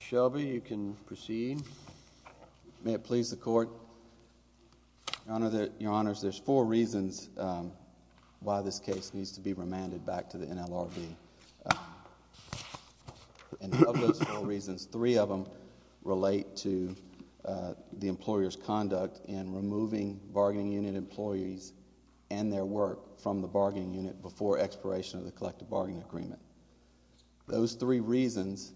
Shelby, you can proceed. May it please the Court? Your Honors, there's four reasons why this case needs to be remanded back to the NLRB. And of those four reasons, three of them relate to the employer's conduct in removing bargaining unit employees and their work from the bargaining unit before expiration of the collective bargaining agreement. Those three reasons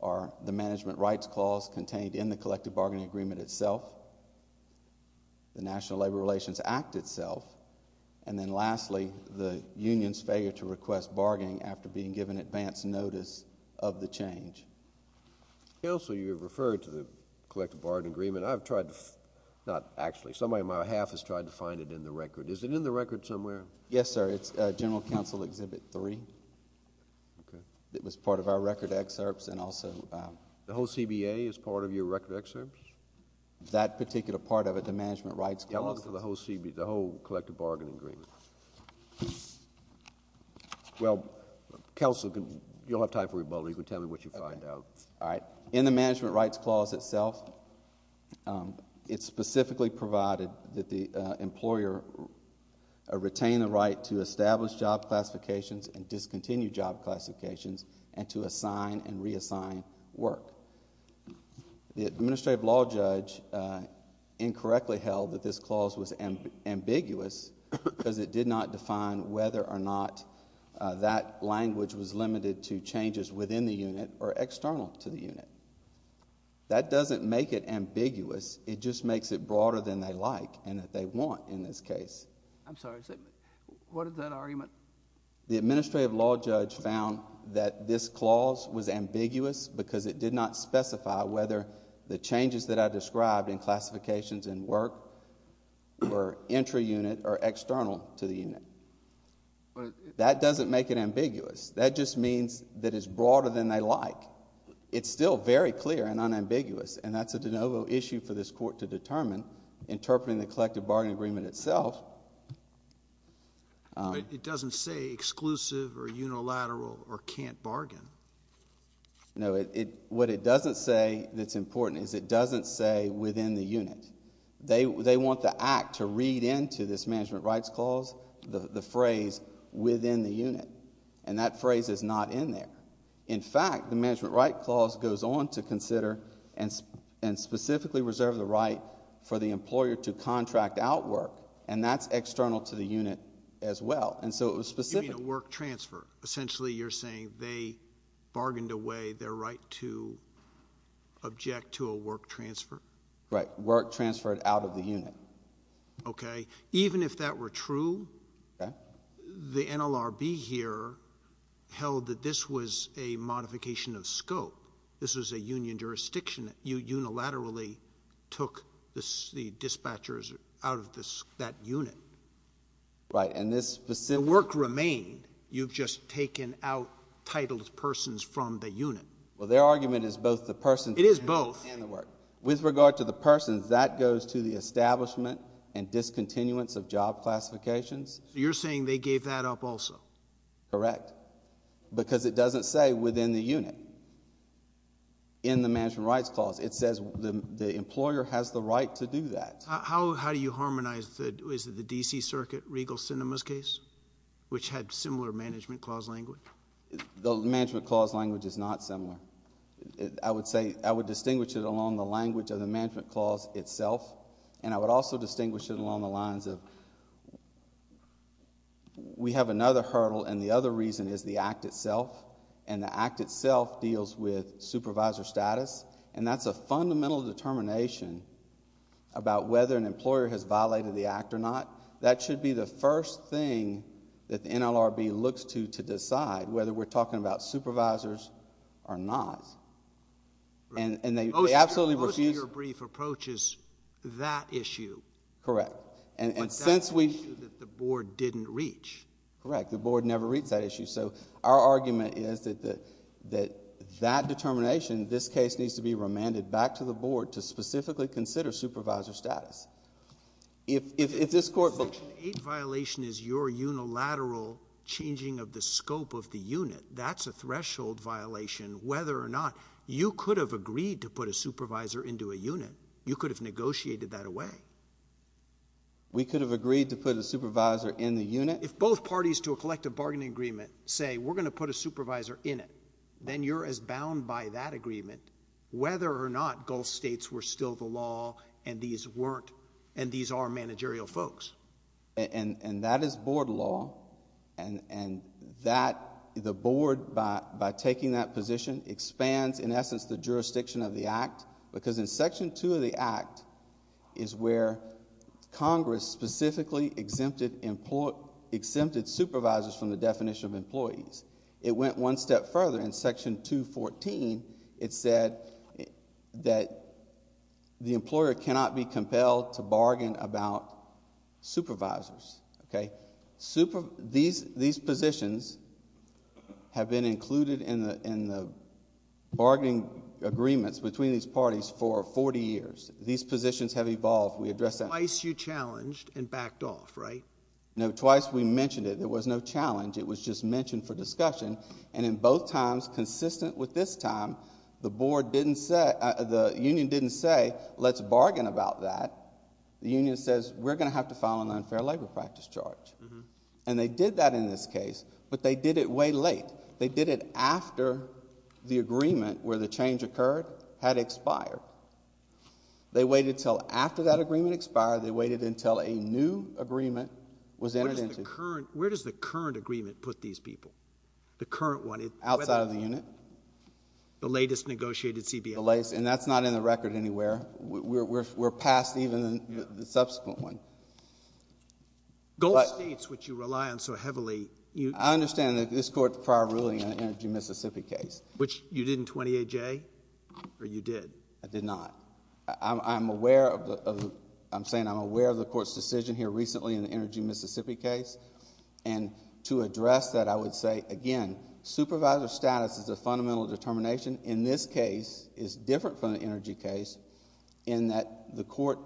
are the management rights clause contained in the collective bargaining agreement itself, the National Labor Relations Act itself, and then lastly, the union's failure to request bargaining after being given advance notice of the change. Counsel, you referred to the collective bargaining agreement. I've tried to, not actually, somebody on my behalf has tried to find it in the record. Is it in the record somewhere? Yes, sir. It's General Counsel Exhibit 3. Okay. It was part of our record excerpts and also... The whole CBA is part of your record excerpts? That particular part of it, the management rights clause... Yeah, I'm looking for the whole CBA, the whole collective bargaining agreement. Well, Counsel, you'll have time for rebuttal. You can tell me what you find out. All right. In the management rights clause itself, it specifically provided that the employer retain the right to establish job classifications and discontinue job classifications and to assign and reassign work. The administrative law judge incorrectly held that this clause was ambiguous because it did not define whether or not that language was limited to changes within the unit or external to the unit. That doesn't make it ambiguous. It just makes it broader than they like and that they want in this case. I'm sorry. What is that argument? The administrative law judge found that this clause was ambiguous because it did not specify whether the changes that I described in classifications and work were entry unit or external to the unit. That doesn't make it ambiguous. That just means that it's broader than they like. It's still very clear and unambiguous and that's a de novo issue for this court to determine, interpreting the collective bargaining agreement itself. It doesn't say exclusive or unilateral or can't bargain. No. What it doesn't say that's important is it doesn't say within the unit. They want the act to read into this management rights clause the phrase within the unit and that phrase is not in there. In fact, the management rights clause goes on to consider and specifically reserve the right for the employer to contract out work and that's external to the unit as well. It was specific. You mean a work transfer. Essentially, you're saying they bargained away their right to object to a work transfer? Right. Work transferred out of the unit. Even if that were true, the NLRB here held that this was a modification of scope. This was a union jurisdiction. You unilaterally took the dispatchers out of that unit. Right. And this... The work remained. You've just taken out titled persons from the unit. Well, their argument is both the person... It is both. ...and the work. With regard to the persons, that goes to the establishment and discontinuance of job classifications. You're saying they gave that up also? Correct. Because it doesn't say within the unit in the management rights clause. It says the employer has the right to do that. How do you harmonize the... Is it the D.C. Circuit Regal Sinema's case, which had similar management clause language? The management clause language is not similar. I would say... I would distinguish it along the language of the management clause itself and I would also distinguish it along the lines of... We have another hurdle and the other reason is the act itself and the act itself deals with supervisor status and that's a fundamental determination about whether an employer has violated the act or not. That should be the first thing that the NLRB looks to to decide whether we're talking about supervisors or not. And they absolutely refuse... Most of your brief approach is that issue. Correct. But that's an issue that the board didn't reach. Correct. The board never reads that issue so our argument is that that determination, this case needs to be remanded back to the board to specifically consider supervisor status. If this court... Section 8 violation is your unilateral changing of the scope of the unit. That's a threshold violation whether or not you could have agreed to put a supervisor into a unit. You could have negotiated that way. We could have agreed to put a supervisor in the unit. If both parties to a collective bargaining agreement say we're going to put a supervisor in it, then you're as bound by that agreement whether or not Gulf states were still the law and these weren't and these are managerial folks. And that is board law and that... The board by taking that position expands in essence the jurisdiction of the act because in section 2 of the act is where Congress specifically exempted supervisors from the definition of employees. It went one step further in section 214. It said that the employer cannot be compelled to bargain about supervisors. These positions have been included in the definition of the act and bargaining agreements between these parties for 40 years. These positions have evolved. We address that... Twice you challenged and backed off, right? No, twice we mentioned it. There was no challenge. It was just mentioned for discussion and in both times consistent with this time, the board didn't say... The union didn't say let's bargain about that. The union says we're going to have to file an unfair labor practice charge. And they did that in this case, but they did it way late. They did it after the agreement where the change occurred had expired. They waited until after that agreement expired, they waited until a new agreement was entered into. Where does the current agreement put these people? The current one? Outside of the unit. The latest negotiated CBA? The latest and that's not in the record anywhere. We're past even the subsequent one. Gulf states which you rely on so heavily. I understand that this court's prior ruling on the Energy Mississippi case. Which you did in 28J or you did? I did not. I'm aware of the... I'm saying I'm aware of the court's decision here recently in the Energy Mississippi case. And to address that I would say again, supervisor status is a fundamental determination. In this case, it's different from the Energy case in that the court,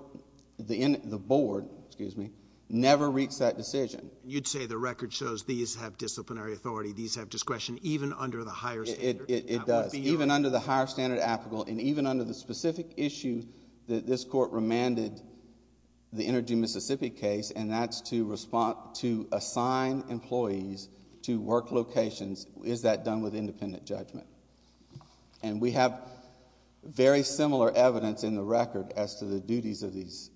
the board, excuse me, never reached that decision. You'd say the record shows these have disciplinary authority, these have discretion even under the higher standard. It does. Even under the higher standard applicable and even under the specific issue that this court remanded the Energy Mississippi case and that's to respond, to assign employees to work locations, is that done with independent judgment? And we have very similar evidence in the record as to the duties of these.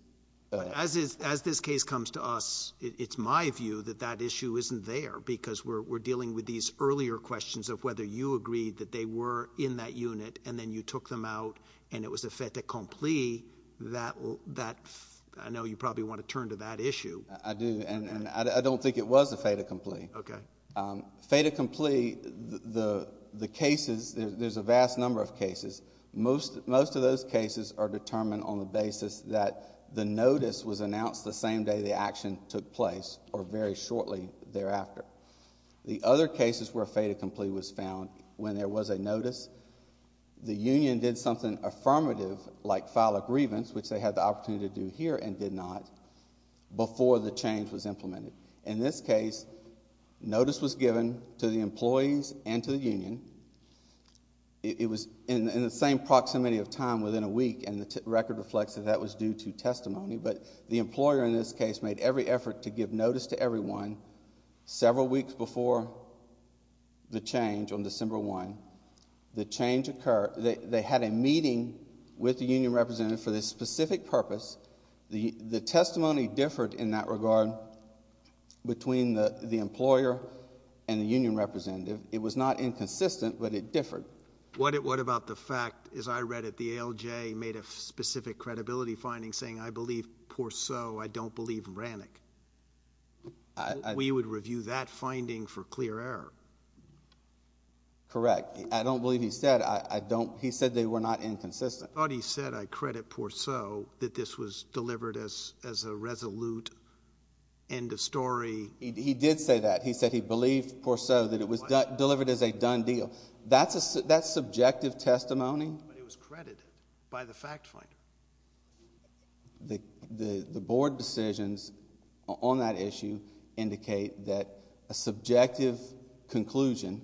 As this case comes to us, it's my view that that issue isn't there. Because we're dealing with these earlier questions of whether you agreed that they were in that unit and then you took them out and it was a fait accompli. I know you probably want to turn to that issue. I do and I don't think it was a fait accompli. Okay. Fait accompli, the cases, there's a vast number of cases. Most of those cases are determined on the basis that the notice was announced the same day the action took place or very shortly thereafter. The other cases where fait accompli was found, when there was a notice, the union did something affirmative like file a grievance, which they had the opportunity to do here and did not, before the change was implemented. In this case, notice was given to the employees and to the union. It was in the same proximity of time within a week and the record reflects that that was due to testimony, but the employer in this case made every effort to give notice to everyone several weeks before the change on December 1. The change occurred, they had a meeting with the union representative for this specific purpose. The testimony differed in that regard between the employer and the union representative. It was not inconsistent, but it differed. What about the fact, as I read it, the ALJ made a specific credibility finding saying, I believe Porceau, I don't believe Ranek. We would review that finding for clear error. Correct. I don't believe he said, I don't, he said they were not inconsistent. I thought he said, I credit Porceau, that this was delivered as a resolute end of story. He did say that. He said he believed Porceau that it was delivered as a done deal. That's subjective testimony. But it was credited by the fact finder. The board decisions on that issue indicate that a subjective conclusion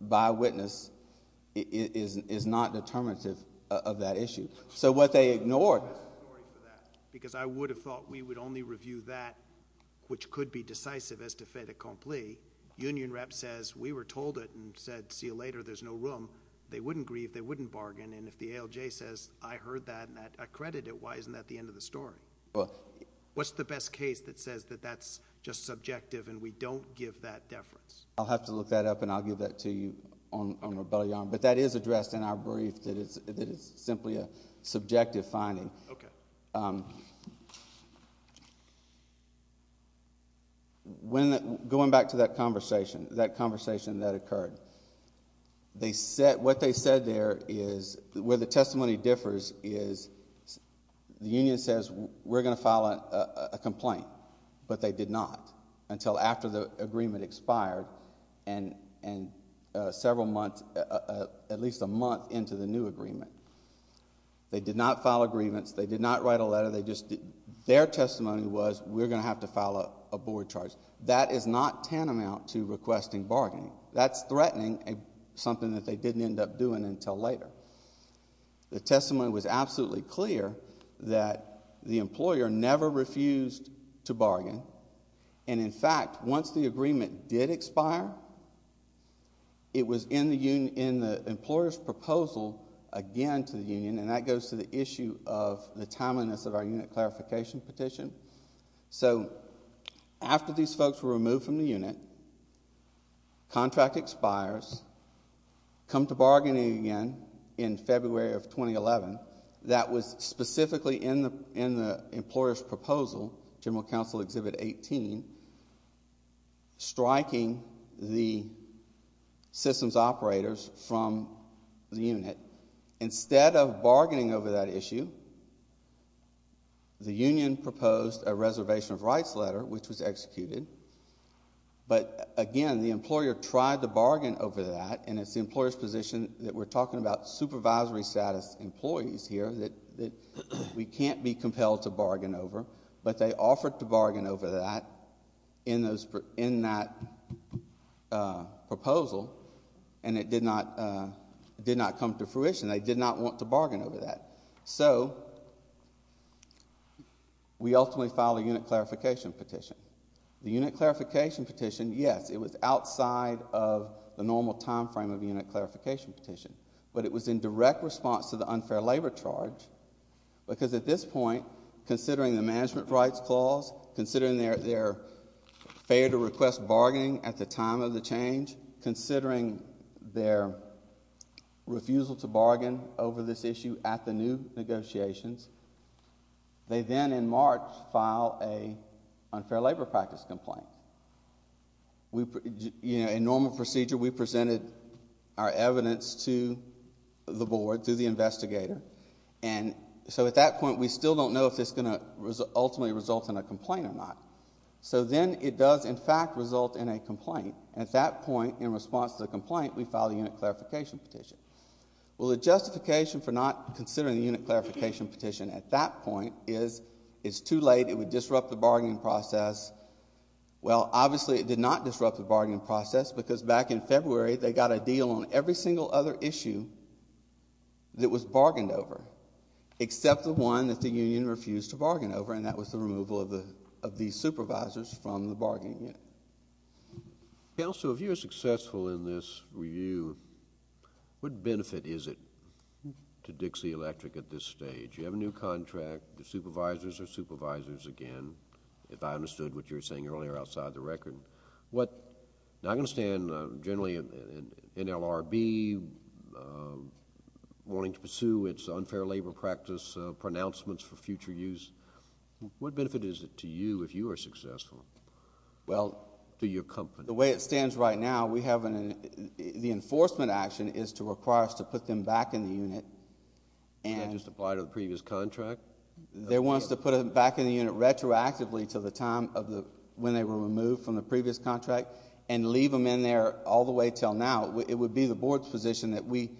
by witness is not determinative of that issue. So what they ignored. Because I would have thought we would only review that which could be decisive as to fait accompli. Union rep says, we were told it and said, see you later, there's no room. They wouldn't grieve, they wouldn't bargain. And if the ALJ says, I heard that and I credit it, why isn't that the end of the story? What's the best case that says that that's just subjective and we don't give that deference? I'll have to look that up and I'll give that to you on rebellion. But that is addressed in our brief that it's simply a subjective finding. Okay. When, going back to that conversation, that conversation that they set, what they said there is where the testimony differs is the union says we're going to file a complaint. But they did not. Until after the agreement expired and several months, at least a month into the new agreement. They did not file a grievance, they did not write a letter, they just, their testimony was we're going to have to file a board charge. That is not tantamount to requesting bargaining. That's threatening something that they didn't end up doing until later. The testimony was absolutely clear that the employer never refused to bargain. And in fact, once the agreement did expire, it was in the employer's proposal again to the union, and that goes to the issue of the timeliness of our unit clarification petition. So after these folks were removed from the unit, contract expires, come to bargaining again in February of 2011, that was specifically in the employer's proposal, general counsel exhibit 18, striking the systems operators from the unit. Instead of bargaining over that issue, the union proposed a reservation of rights letter, which was executed. But again, the employer tried to bargain over that, and it's the employer's position that we're talking about supervisory status employees here that we can't be compelled to bargain over, but they offered to bargain over that in that proposal, and it did not come to fruition. They did not want to bargain over that. So we ultimately filed a unit clarification petition. The unit clarification petition, yes, it was outside of the normal time frame of unit clarification petition, but it was in direct response to the unfair labor charge, because at this point, considering the management rights clause, considering their failure to request bargaining at the time of the change, considering their refusal to bargain over this issue at the new negotiations, they then in March file an unfair labor practice complaint. In normal procedure, we presented our evidence to the board through the investigator, and so at that point, we still don't know if it's going to ultimately result in a complaint or not. So then it does, in fact, result in a complaint, and at that point, in response to the complaint, we filed a unit clarification petition. Well, the justification for not considering the unit clarification petition at that point is it's too late, it would disrupt the bargaining process. Well, obviously, it did not disrupt the bargaining process, because back in February, they got a deal on every single other issue that was bargained over, except the one that the union refused to bargain over, and that was the removal of the supervisors from the bargaining unit. Counsel, if you're successful in this review, what benefit is it to Dixie Electric at this stage? You have a new contract, the supervisors are supervisors again, if I understood what you were saying earlier outside the record. Now, I understand generally NLRB wanting to do this for future use. What benefit is it to you if you are successful? Well, to your company. The way it stands right now, we have an, the enforcement action is to require us to put them back in the unit. Would that just apply to the previous contract? They want us to put them back in the unit retroactively to the time of when they were removed from the previous contract, and leave them in there all the way until now. It would be the board's position that we,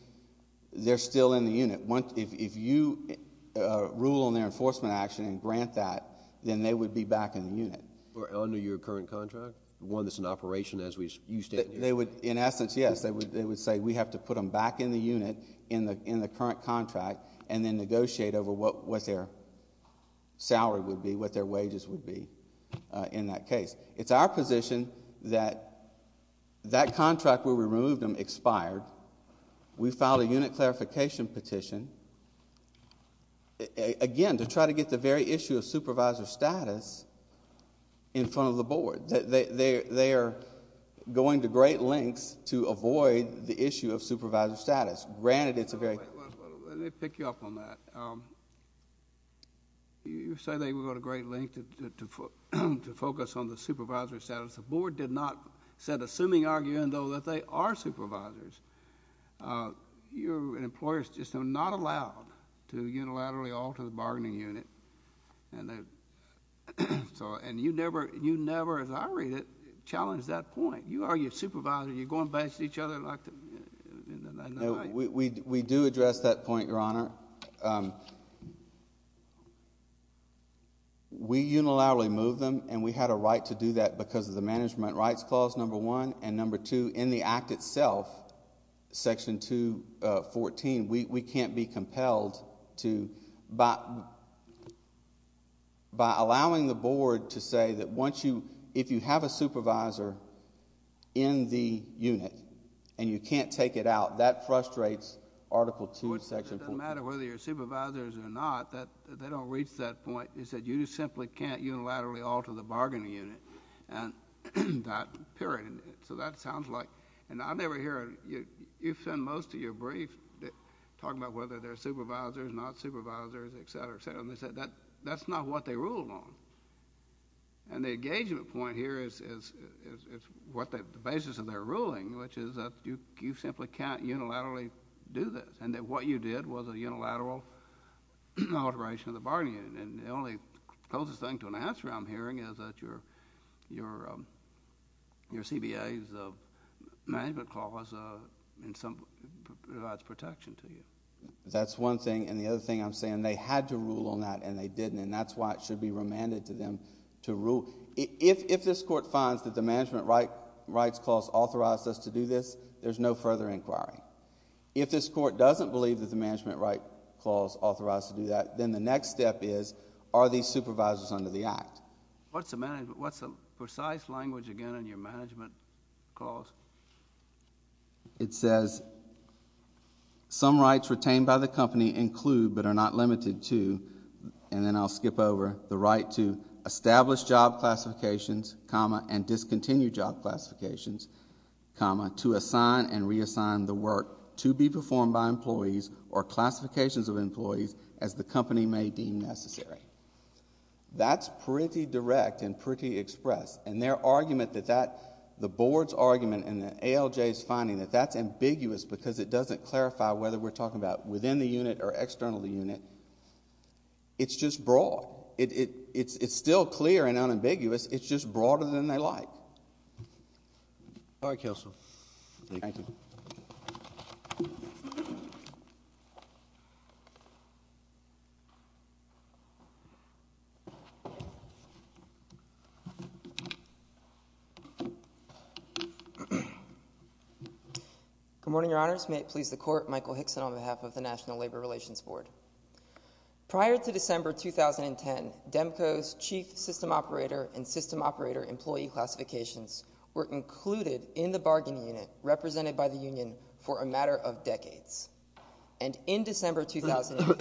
they're still in the unit. If you rule on their enforcement action and grant that, then they would be back in the unit. Or under your current contract? One that's in operation as we, you stand here? In essence, yes. They would say we have to put them back in the unit in the current contract, and then negotiate over what their salary would be, what their wages would be in that period. We filed a unit clarification petition, again, to try to get the very issue of supervisor status in front of the board. They are going to great lengths to avoid the issue of supervisor status. Granted, it's a very Let me pick you up on that. You say they would go to great lengths to focus on the supervisor status. The board did not set a seeming argument, though, that they are supervisors. You and employers just are not allowed to unilaterally alter the bargaining unit. You never, as I read it, challenged that point. You are your supervisor. You're going back to each other like that. We do address that point, Your Honor. We unilaterally move them, and we had a right to do that because of the Management Rights Clause, number one. Number two, in the Act itself, Section 214, we can't be compelled to... By allowing the board to say that if you have a supervisor in the unit, and you can't take it out, that frustrates Article II, Section 214. It doesn't matter whether you're supervisors or not. They don't reach that point. You just simply can't unilaterally alter the bargaining unit, and that period. So that sounds like... And I never hear... You've said in most of your briefs, talking about whether they're supervisors, not supervisors, et cetera, et cetera, and they said that's not what they ruled on. And the engagement point here is the basis of their ruling, which is that you simply can't unilaterally do this, and that what you did was a unilateral alteration of the bargaining unit. And the only closest thing to an answer I'm hearing is that your CBA's Management Clause in some... provides protection to you. That's one thing, and the other thing I'm saying, they had to rule on that, and they didn't, and that's why it should be remanded to them to rule. If this Court finds that the Management Rights Clause authorized us to do this, there's no further inquiry. If this Court doesn't believe that the Management Rights Clause authorized us to do that, then the next step is, are these supervisors under the Act? What's the precise language, again, in your Management Clause? It says, some rights retained by the company include, but are not limited to, and then I'll skip over, the right to establish job classifications, comma, and discontinue job classifications, comma, to assign and reassign the work to be performed by employees or classifications of employees, as the company may deem necessary. That's pretty direct and pretty expressed, and their argument that that... the Board's argument and the ALJ's finding that that's ambiguous because it doesn't clarify whether we're talking about within the unit or external to the unit, it's just broad. It's still clear and unambiguous, it's just broader than they like. All right, Counsel. Thank you. Good morning, Your Honors. May it please the Court, Michael Hickson on behalf of the National Labor Relations Board. Prior to December 2010, DEMCO's Chief System Operator and System Operator employee classifications were included in the bargaining unit represented by the union for a matter of decades. And in December 2010,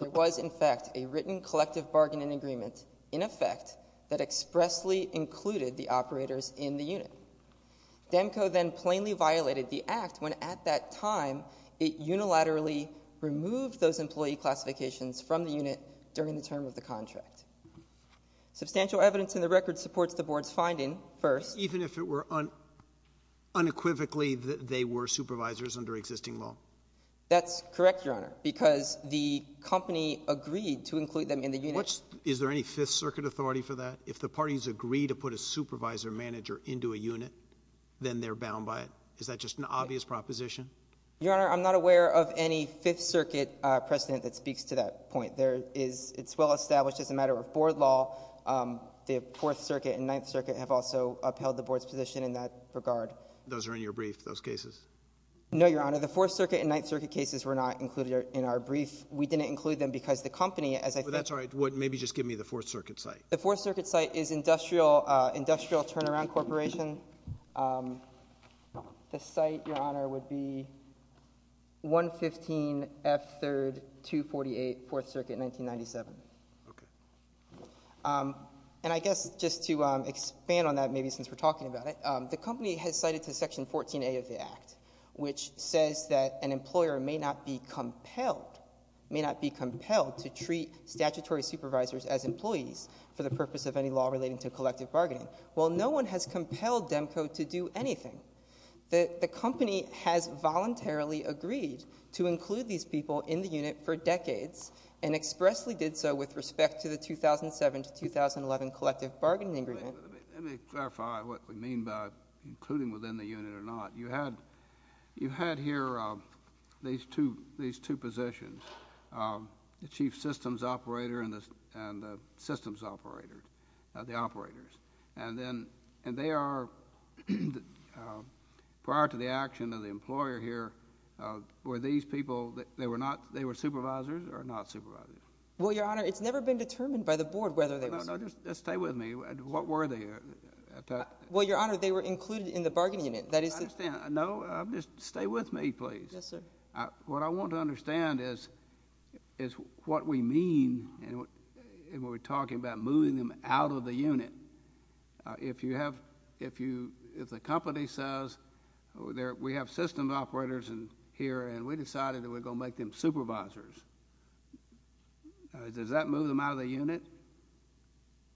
there was, in fact, a written collective bargaining agreement, in effect, that expressly included the operators in the unit. DEMCO then plainly violated the Act when, at that time, it unilaterally removed those employee classifications from the unit during the term of the contract. Substantial evidence in the record supports the Board's finding, first... Even if it were unequivocally that they were supervisors under existing law? That's correct, Your Honor, because the company agreed to include them in the unit... Which... is there any Fifth Circuit authority for that? If the parties agree to put a supervisor manager into a unit, then they're bound by it. Is that just an obvious proposition? Your Honor, I'm not aware of any Fifth Circuit precedent that speaks to that point. There is... It's well established as a matter of Board law, the Fourth Circuit and Ninth Circuit have also upheld the Board's position in that regard. Those are in your brief, those cases? No, Your Honor. The Fourth Circuit and Ninth Circuit cases were not included in our brief. We didn't include them because the company, as I think... That's all right. Maybe just give me the Fourth Circuit site. The Fourth Circuit site is Industrial Turnaround Corporation. The site, Your Honor, would be 115 F. 3rd, 248 Fourth Circuit, 1997. I guess just to expand on that, maybe since we're talking about it, the company has cited to Section 14A of the Act, which says that an employer may not be compelled to treat statutory supervisors as employees for the purpose of any law relating to collective bargaining. Well, no one has compelled Demco to do anything. The company has voluntarily agreed to include these people in the unit for decades and expressly did so with respect to the 2007 to 2011 collective bargaining agreement. Let me clarify what we mean by including within the unit or not. You had here these two positions, the Chief Systems Operator and the Systems Operator, the Operators. They are, prior to the action of the employer here, were these people, they were supervisors or not supervisors? Well, Your Honor, it's never been determined by the Board whether they were... No, no. Just stay with me. What were they? Well, Your Honor, they were included in the bargaining unit. That is... I understand. No, just stay with me, please. Yes, sir. What I want to understand is what we mean when we're talking about moving them out of the unit. If you have... if the company says, we have systems operators here and we decided that we're going to make them supervisors, does that move them out of the unit?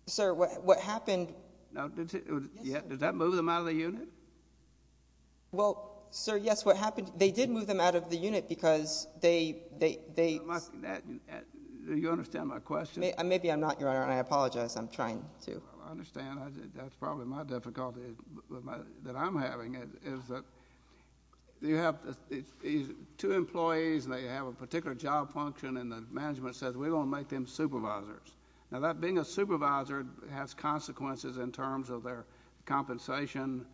Sir, what happened... Now, did that move them out of the unit? Well, sir, yes, what happened... they did move them out of the unit because they... Do you understand my question? Maybe I'm not, Your Honor, and I apologize. I'm trying to... I understand. That's probably my difficulty that I'm having is that you have two employees and they have a particular job function and the management says, we're going to make them supervisors. Now, that being a supervisor has consequences in terms of their compensation,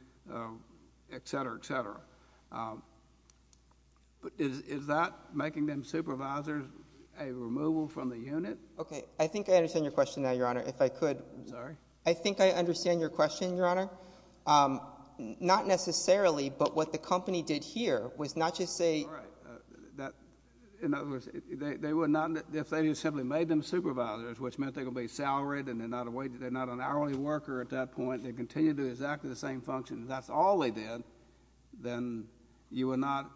et cetera, et cetera. Is that making them supervisors a removal from the unit? Okay. I think I understand your question now, Your Honor. If I could... I'm sorry? I think I understand your question, Your Honor. Not necessarily, but what the company did here was not just say... All right. In other words, they would not... if they just simply made them supervisors, which meant they would be salaried and they're not a wage... they're not an hourly worker at that point. They continue to do exactly the same function. If that's all they did, then you would not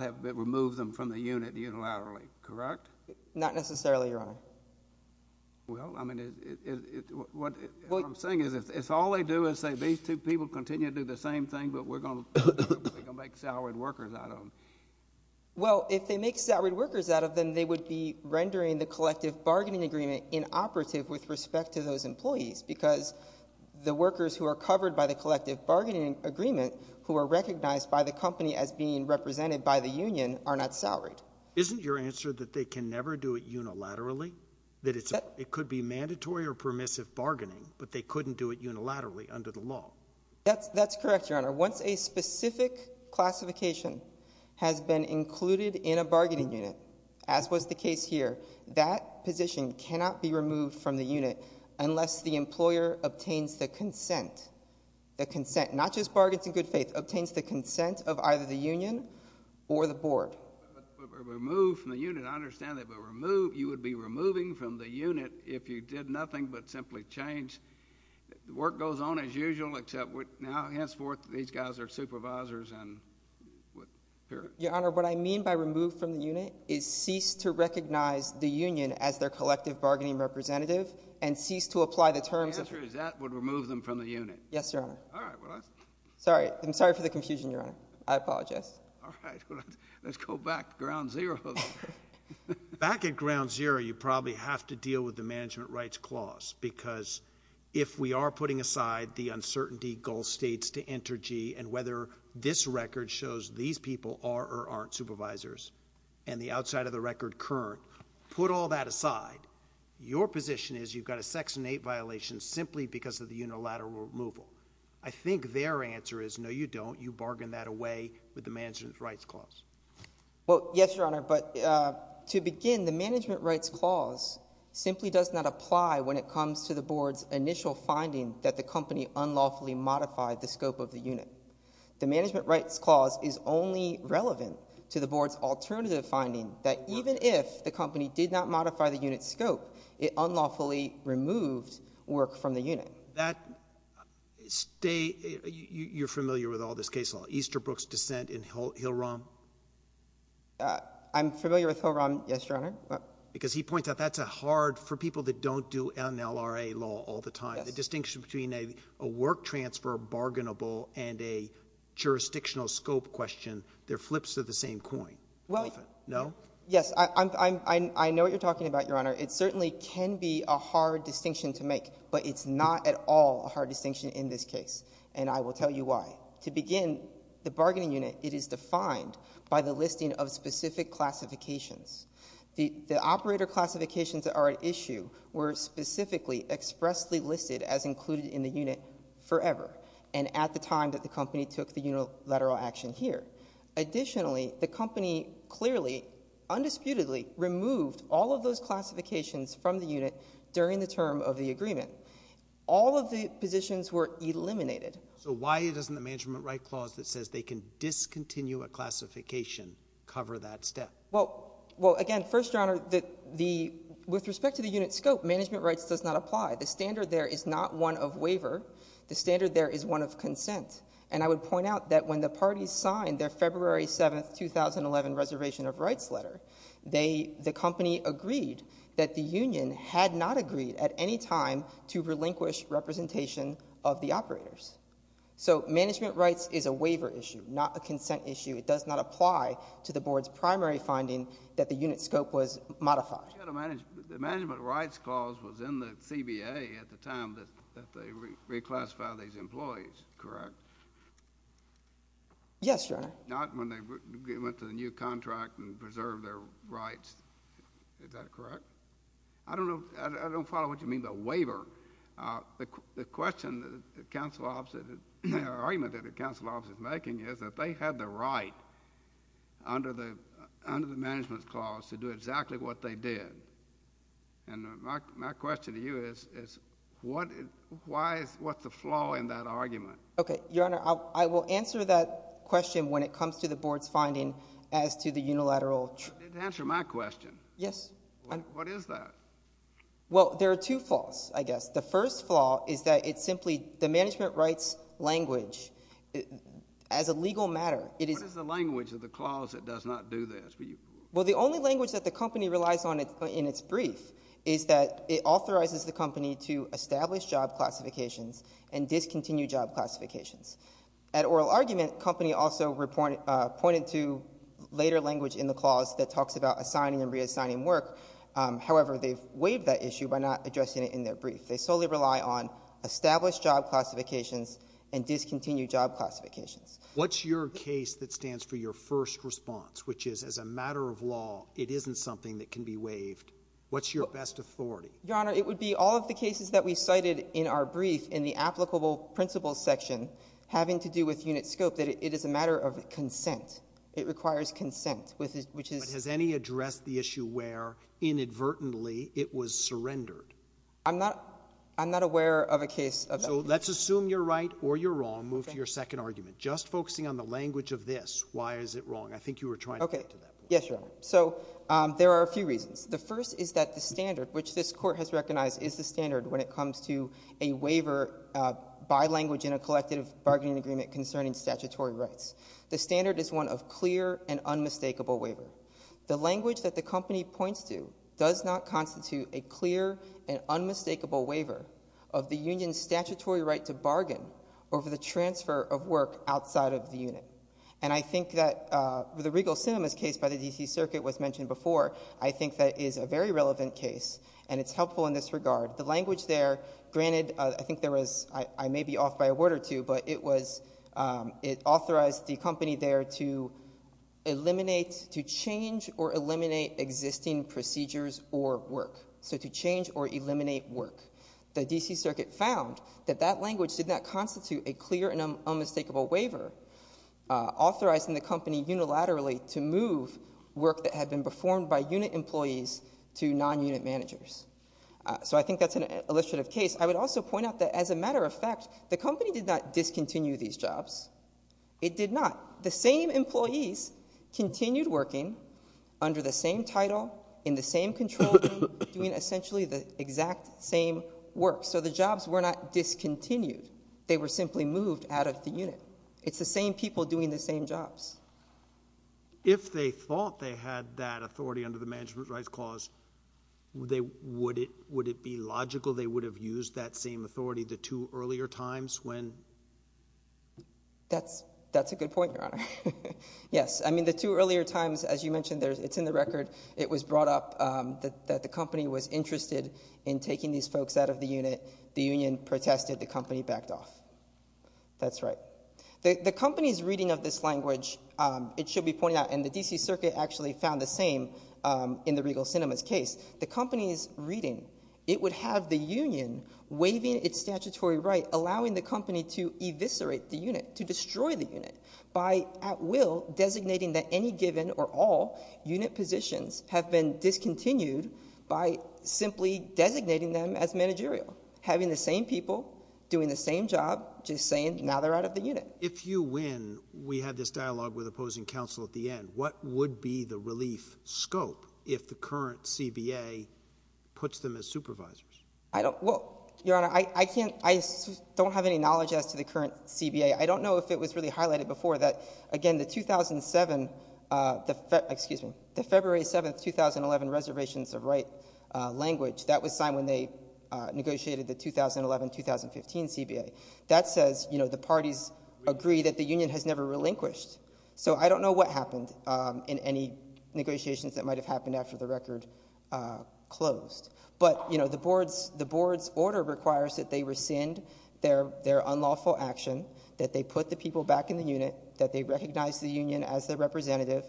have removed them from the unit unilaterally, correct? Not necessarily, Your Honor. Well, I mean, what I'm saying is if all they do is say, these two people continue to do the same thing, but we're going to make salaried workers out of them. Well, if they make salaried workers out of them, they would be rendering the collective bargaining agreement inoperative with respect to those employees because the workers who are covered by the collective bargaining agreement who are recognized by the company as being represented by the union are not salaried. Isn't your answer that they can never do it unilaterally? That it could be mandatory or permissive bargaining, but they couldn't do it unilaterally under the law? That's correct, Your Honor. Once a specific classification has been included in a bargaining unit, as was the case here, that position cannot be removed from the unit unless the employer obtains the consent, the consent, not just bargains in good faith, obtains the consent. If it were removed from the unit, I understand that you would be removing from the unit if you did nothing but simply change. The work goes on as usual, except now henceforth, these guys are supervisors and would appear... Your Honor, what I mean by removed from the unit is cease to recognize the union as their collective bargaining representative and cease to apply the terms... The answer is that would remove them from the unit? Yes, Your Honor. All right. Sorry. I'm sorry for the confusion, Your Honor. I apologize. Yes. All right. Let's go back to ground zero. Back at ground zero, you probably have to deal with the Management Rights Clause because if we are putting aside the uncertainty Gulf states to enter G and whether this record shows these people are or aren't supervisors and the outside of the record current, put all that aside. Your position is you've got a Section 8 violation simply because of the unilateral removal. I think their answer is, no, you don't. You bargain that away with the Management Rights Clause. Well, yes, Your Honor, but to begin, the Management Rights Clause simply does not apply when it comes to the Board's initial finding that the company unlawfully modified the scope of the unit. The Management Rights Clause is only relevant to the Board's alternative finding that even if the company did not modify the unit's scope, it unlawfully removed work from the unit. So that — you're familiar with all this case law, Easterbrook's dissent in Hill-Rom? I'm familiar with Hill-Rom, yes, Your Honor. Because he points out that's a hard — for people that don't do NLRA law all the time, the distinction between a work transfer bargainable and a jurisdictional scope question, they're flips of the same coin. Well — No? Yes. I know what you're talking about, Your Honor. It certainly can be a hard distinction to make, but it's not at all a hard distinction in this case, and I will tell you why. To begin, the bargaining unit, it is defined by the listing of specific classifications. The operator classifications that are at issue were specifically expressly listed as included in the unit forever and at the time that the company took the unilateral action here. Additionally, the company clearly, undisputedly removed all of those classifications from the unit during the term of the agreement. All of the positions were eliminated. So why doesn't the Management Rights Clause that says they can discontinue a classification cover that step? Well, again, first, Your Honor, with respect to the unit scope, management rights does not apply. The standard there is not one of waiver. The standard there is one of consent. And I would point out that when the parties signed their February 7, 2011 Reservation of Rights letter, they, the company agreed that the union had not agreed at any time to relinquish representation of the operators. So management rights is a waiver issue, not a consent issue. It does not apply to the Board's primary finding that the unit scope was modified. The Management Rights Clause was in the CBA at the time that they reclassified these employees, correct? Yes, Your Honor. Not when they went to the new contract and preserved their rights. Is that correct? I don't know, I don't follow what you mean by waiver. The question that the counsel officer, the argument that the counsel officer is making is that they had the right under the Management Rights Clause to do exactly what they did. And my question to you is what is, why is, what's the flaw in that argument? Okay, Your Honor, I will answer that question when it comes to the Board's finding as to the unilateral. You didn't answer my question. Yes. What is that? Well there are two flaws, I guess. The first flaw is that it's simply the Management Rights language, as a legal matter, it is What is the language of the clause that does not do this? Well the only language that the company relies on in its brief is that it authorizes the At oral argument, the company also pointed to later language in the clause that talks about assigning and reassigning work. However, they've waived that issue by not addressing it in their brief. They solely rely on established job classifications and discontinued job classifications. What's your case that stands for your first response, which is as a matter of law it isn't something that can be waived? What's your best authority? Your Honor, it would be all of the cases that we cited in our brief in the Applicable Principles section having to do with unit scope, that it is a matter of consent. It requires consent, which is But has any addressed the issue where inadvertently it was surrendered? I'm not aware of a case of that. So let's assume you're right or you're wrong. Move to your second argument. Just focusing on the language of this, why is it wrong? I think you were trying to get to that point. Yes, Your Honor. So there are a few reasons. The first is that the standard, which this waiver, by language in a collective bargaining agreement concerning statutory rights, the standard is one of clear and unmistakable waiver. The language that the company points to does not constitute a clear and unmistakable waiver of the union's statutory right to bargain over the transfer of work outside of the unit. And I think that the Regal Sinema's case by the D.C. Circuit was mentioned before. I think that is a very relevant case and it's helpful in this regard. The language there, granted, I think there was, I may be off by a word or two, but it was, it authorized the company there to eliminate, to change or eliminate existing procedures or work. So to change or eliminate work. The D.C. Circuit found that that language did not constitute a clear and unmistakable waiver, authorizing the company unilaterally to move work that had been performed by unit employees to non-unit managers. So I think that's an illustrative case. I would also point out that, as a matter of fact, the company did not discontinue these jobs. It did not. The same employees continued working under the same title, in the same control room, doing essentially the exact same work. So the jobs were not discontinued. They were simply moved out of the unit. It's the same people doing the same jobs. If they thought they had that authority under the Management Rights Clause, would it be logical they would have used that same authority the two earlier times when? That's a good point, Your Honor. Yes. I mean, the two earlier times, as you mentioned, it's in the record. It was brought up that the company was interested in taking these folks out of the unit. The union protested. The company backed off. That's right. The company's reading of this language, it should be pointed out, and the D.C. Circuit actually found the same in the Regal Sinema's case. The company's reading, it would have the union waiving its statutory right, allowing the company to eviscerate the unit, to destroy the unit, by at will designating that any given or all unit positions have been discontinued by simply designating them as managerial. Having the same people doing the same job, just saying now they're out of the unit. If you win, we had this dialogue with opposing counsel at the end, what would be the relief scope if the current CBA puts them as supervisors? I don't, well, Your Honor, I can't, I don't have any knowledge as to the current CBA. I don't know if it was really highlighted before that, again, the 2007, excuse me, the February 7th, 2011 Reservations of Right language, that was signed when they negotiated the 2011, 2015 CBA. That says, you know, the parties agree that the union has never relinquished. So I don't know what happened in any negotiations that might have happened after the record closed. But, you know, the board's order requires that they rescind their unlawful action, that they put the people back in the unit, that they recognize the union as the representative,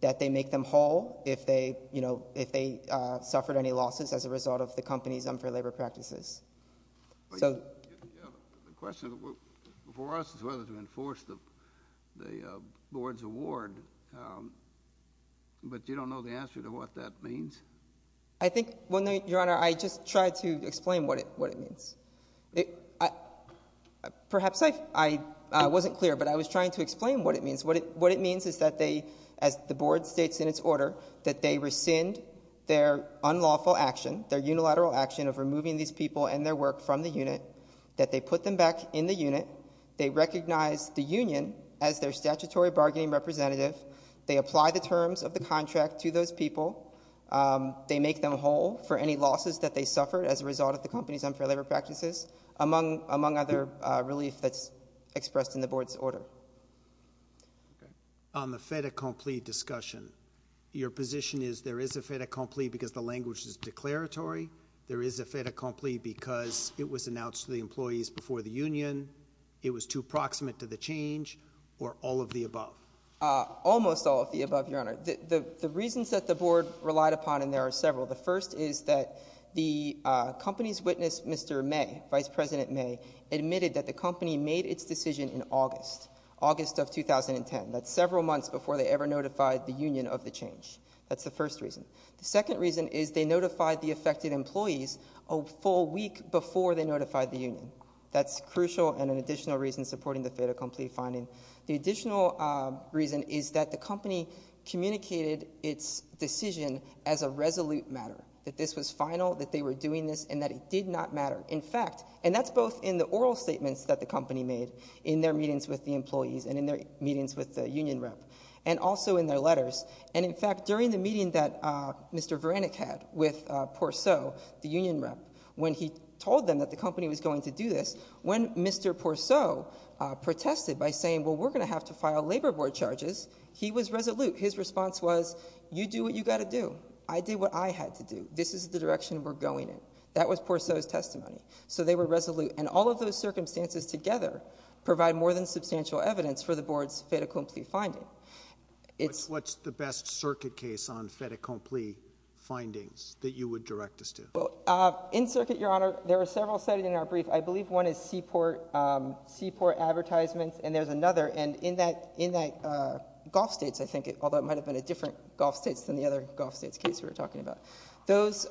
that they make them whole if they, you know, if they suffered any losses as a result of the company's unfair labor practices. The question for us is whether to enforce the board's award, but you don't know the answer to what that means? I think, well, Your Honor, I just tried to explain what it means. Perhaps I wasn't clear, but I was trying to explain what it means. What it means is that they, as the board states in its order, that they rescind their unlawful action, their unilateral action of removing these people and their work from the unit, that they put them back in the unit, they recognize the union as their statutory bargaining representative, they apply the terms of the contract to those people, they make them whole for any losses that they suffered as a result of the company's unfair labor practices, among other relief that's expressed in the board's order. Okay. On the fait accompli discussion, your position is there is a fait accompli because the language is declaratory, there is a fait accompli because it was announced to the employees before the union, it was too proximate to the change, or all of the above? Almost all of the above, Your Honor. The reasons that the board relied upon, and there are several, the first is that the company's witness, Mr. May, Vice President May, admitted that the company made its decision in August, August of 2010, that's several months before they ever notified the union of the change. That's the first reason. The second reason is they notified the affected employees a full week before they notified the union. That's crucial and an additional reason supporting the fait accompli finding. The additional reason is that the company communicated its decision as a resolute matter, that this was final, that they were doing this, and that it did not matter. In fact, and that's both in the oral statements that the company made in their meetings with the employees and in their meetings with the union rep, and also in their letters, and in fact, during the meeting that Mr. Vranek had with Porceau, the union rep, when he told them that the company was going to do this, when Mr. Porceau protested by saying, well, we're going to have to file labor board charges, he was resolute. His response was, you do what you got to do. I did what I had to do. This is the direction we're going in. That was Porceau's testimony. So they were resolute. And all of those circumstances together provide more than substantial evidence for the board's fait accompli finding. What's the best circuit case on fait accompli findings that you would direct us to? In circuit, Your Honor, there are several cited in our brief. I believe one is seaport advertisements and there's another. And in that Gulf States, I think, although it might have been a different Gulf States than the other Gulf States case we were talking about, those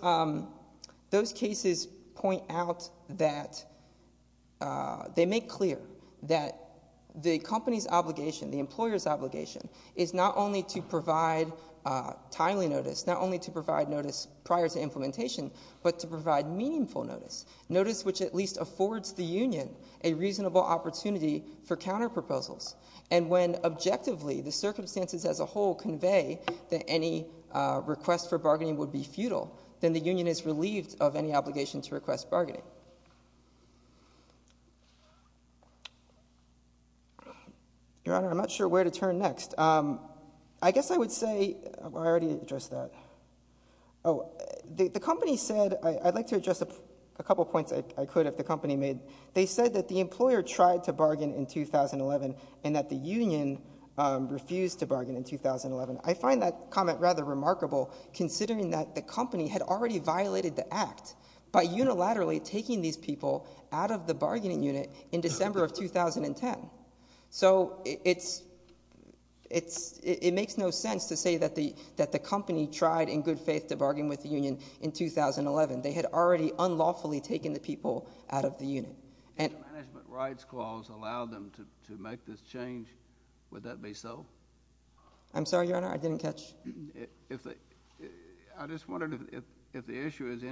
cases point out that they make clear that the company's obligation, the employer's obligation is not only to provide timely notice, not only to provide notice prior to implementation, but to provide meaningful notice, notice which at least affords the union a reasonable opportunity for counter proposals. And when objectively, the circumstances as a whole convey that any request for bargaining would be futile, then the union is relieved of any obligation to request bargaining. Your Honor, I'm not sure where to turn next. I guess I would say, I already addressed that. The company said, I'd like to address a couple points I could if the company made. They said that the employer tried to bargain in 2011 and that the union refused to bargain in 2011. I find that comment rather remarkable considering that the company had already violated the act by unilaterally taking these people out of the bargaining unit in December of 2010. So it makes no sense to say that the company tried in good faith to bargain with the union in 2011. They had already unlawfully taken the people out of the unit. If the Management Rights Clause allowed them to make this change, would that be so? I'm sorry, Your Honor, I didn't catch. I just wondered if the issue is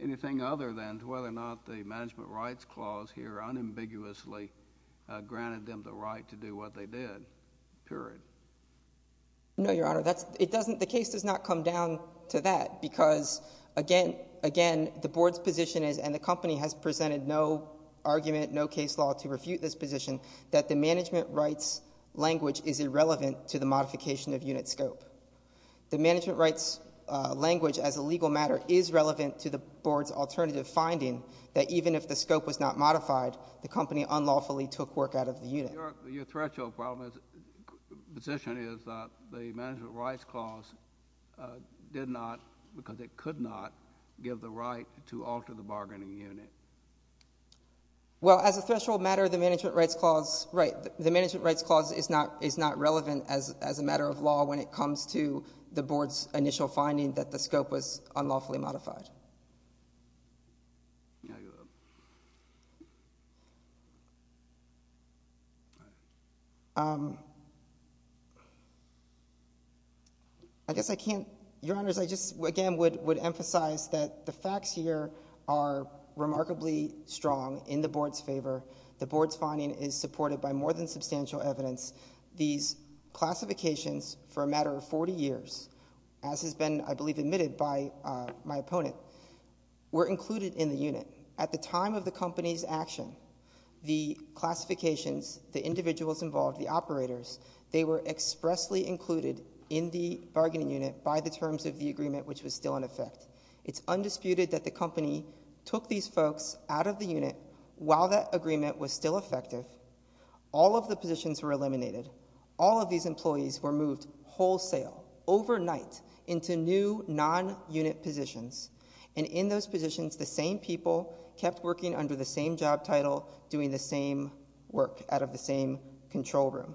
anything other than whether or not the Management Rights Clause here unambiguously granted them the right to do what they did, period. No, Your Honor. The case does not come down to that because, again, the board's position is, and the company has presented no argument, no case law to refute this position, that the management rights language is irrelevant to the modification of unit scope. The management rights language, as a legal matter, is relevant to the board's alternative finding that even if the scope was not modified, the company unlawfully took work out of the unit. Your threshold position is that the Management Rights Clause did not, because it could not, give the right to alter the bargaining unit. Well, as a threshold matter, the Management Rights Clause is not relevant as a matter of law when it comes to the board's initial finding that the scope was unlawfully modified. I guess I can't, Your Honors, I just, again, would emphasize that the facts here are remarkably strong in the board's favor. The board's finding is supported by more than substantial evidence. These classifications, for a matter of 40 years, as has been, I believe, admitted by my opponent, were included in the unit. At the time of the company's action, the classifications, the individuals involved, the operators, they were expressly included in the bargaining unit by the terms of the agreement, which was still in effect. It's undisputed that the company took these folks out of the unit while that agreement was still effective. All of the positions were eliminated. All of these employees were moved wholesale, overnight, into new non-unit positions. And in those positions, the same people kept working under the same job title, doing the same work, out of the same control room.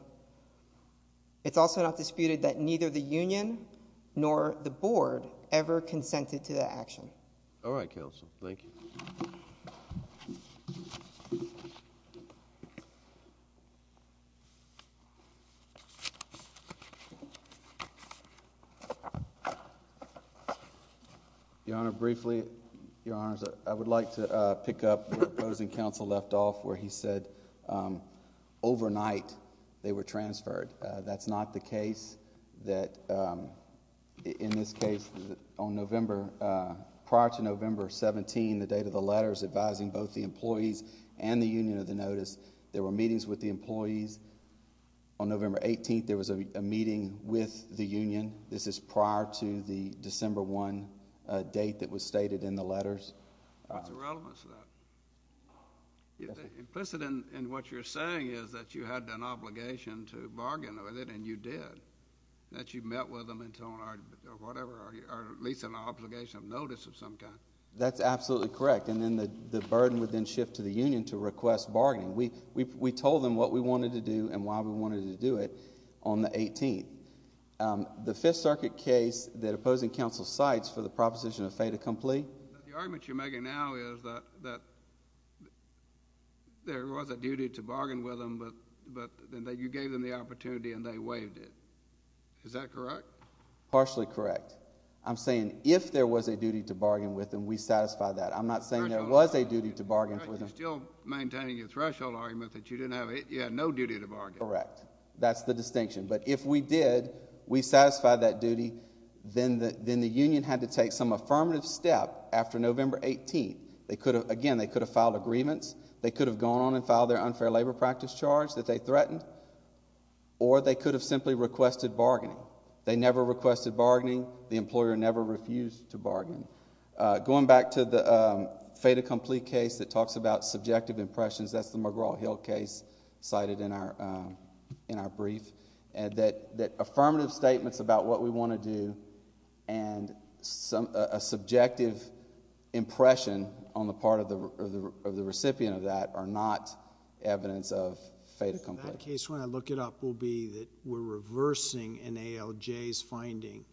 It's also not disputed that neither the union nor the board ever consented to that action. All right, Counsel. Thank you. Your Honor, briefly, Your Honors, I would like to pick up where opposing counsel left off, where he said, overnight, they were transferred. That's not the case that, in this case, on November, prior to November 17, the date of the letters advising both the employees and the union of the notice, there were meetings with the employees. On November 18, there was a meeting with the union. This is prior to the December 1 date that was stated in the letters. What's the relevance of that? Yes, sir. Implicit in what you're saying is that you had an obligation to bargain with it, and you did. That you met with them, or whatever, or at least an obligation of notice of some kind. That's absolutely correct. And then the burden would then shift to the union to request bargaining. We told them what we wanted to do and why we wanted to do it on the 18th. The Fifth Circuit case that opposing counsel cites for the proposition of fait accompli... The argument you're making now is that there was a duty to bargain with them, but you gave them the opportunity and they waived it. Is that correct? Partially correct. I'm saying if there was a duty to bargain with them, we satisfied that. I'm not saying there was a duty to bargain with them. You're still maintaining your threshold argument that you didn't have... you had no duty to bargain. Correct. That's the distinction. But if we did, we satisfied that duty, then the union had to take some affirmative step after November 18. They could have... again, they could have filed a grievance. They could have gone on and filed their unfair labor practice charge that they threatened, or they could have simply requested bargaining. They never requested bargaining. The employer never refused to bargain. Going back to the fait accompli case that talks about subjective impressions, that's the McGraw-Hill case cited in our brief, that affirmative statements about what we want to do and a subjective impression on the part of the recipient of that are not evidence of fait accompli. That case, when I look it up, will be that we're reversing an ALJ's finding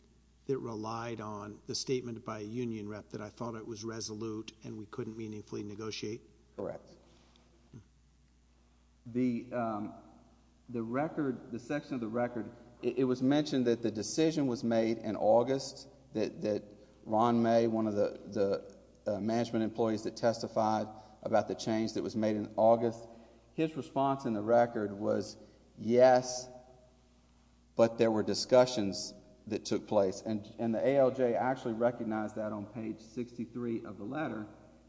that relied on the statement by a union rep that I thought it was resolute and we couldn't meaningfully negotiate? Correct. The record, the section of the record, it was mentioned that the decision was made in August that Ron May, one of the management employees that testified about the change that was made in August, his response in the record was, yes, but there were discussions that took place. And the ALJ actually recognized that on page 63 of the letter.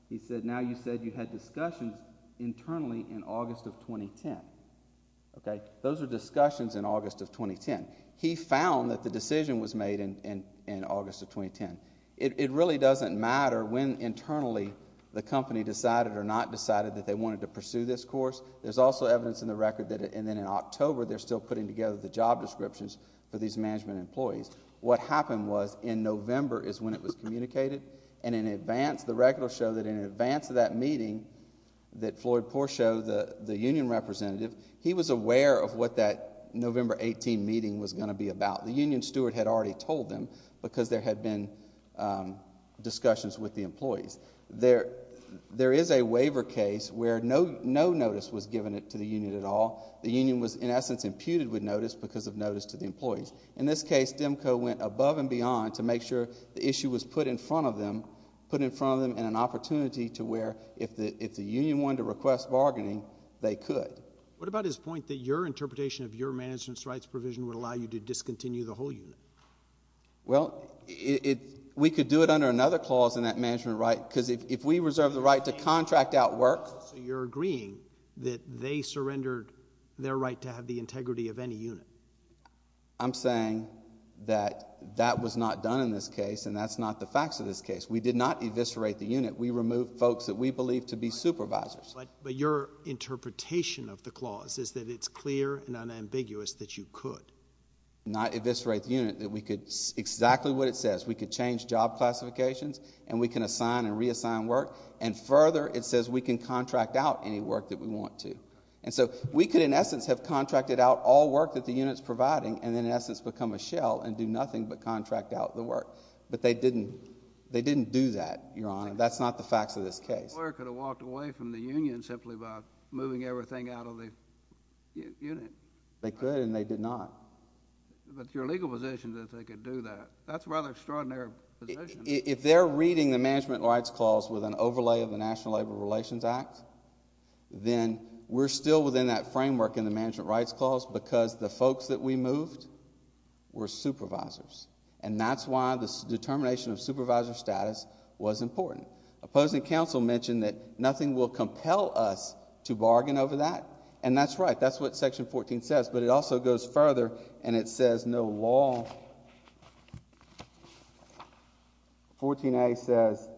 He said, now you said you had discussions internally in August of 2010. Those are discussions in August of 2010. He found that the decision was made in August of 2010. It really doesn't matter when internally the company decided or not decided that they wanted to pursue this course. There's also evidence in the record that, and then in October, they're still putting together the job descriptions for these management employees. What happened was, in November is when it was communicated, and in advance, the records show that in advance of that meeting that Floyd Poore showed the union representative, he was aware of what that November 18 meeting was going to be about. The union steward had already told them because there had been discussions with the employees. There is a waiver case where no notice was given to the union at all. The union was, in essence, imputed with notice because of notice to the employees. In this case, DEMCO went above and beyond to make sure the issue was put in front of them, put in front of them in an opportunity to where if the union wanted to request bargaining, they could. What about his point that your interpretation of your management's rights provision would allow you to discontinue the whole unit? Well, we could do it under another clause in that management right, because if we reserve the right to contract out work... So you're agreeing that they surrendered their right to have the integrity of any unit? I'm saying that that was not done in this case, and that's not the facts of this case. We did not eviscerate the unit. We removed folks that we believed to be supervisors. But your interpretation of the clause is that it's clear and unambiguous that you could... not eviscerate the unit, that we could... exactly what it says. We could change job classifications, and we can assign and reassign work. And further, it says we can contract out any work that we want to. And so we could, in essence, have contracted out all work that the unit's providing, and then, in essence, become a shell and do nothing but contract out the work. But they didn't. They didn't do that, Your Honor. That's not the facts of this case. A lawyer could have walked away from the union simply by moving everything out of the unit. They could, and they did not. But your legal position is that they could do that. That's a rather extraordinary position. If they're reading the Management Rights Clause with an overlay of the National Labor Relations Act, then we're still within that framework in the Management Rights Clause because the folks that we moved were supervisors. And that's why the determination of supervisor status was important. Opposing counsel mentioned that nothing will compel us to bargain over that. And that's right. That's what Section 14 says. But it also goes further, and it says no law. 14A says,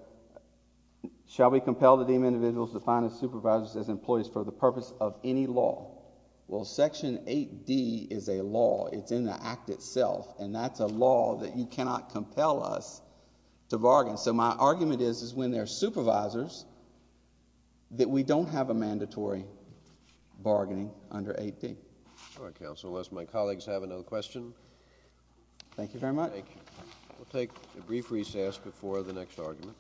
shall we compel the deemed individuals to find supervisors as employees for the purpose of any law? Well, Section 8D is a law. It's in the Act itself. And that's a law that you cannot compel us to bargain. So my argument is, is when there are supervisors, that we don't have a mandatory bargaining under 8D. All right, Counsel, unless my colleagues have another question. Thank you very much. We'll take a brief recess before the next argument.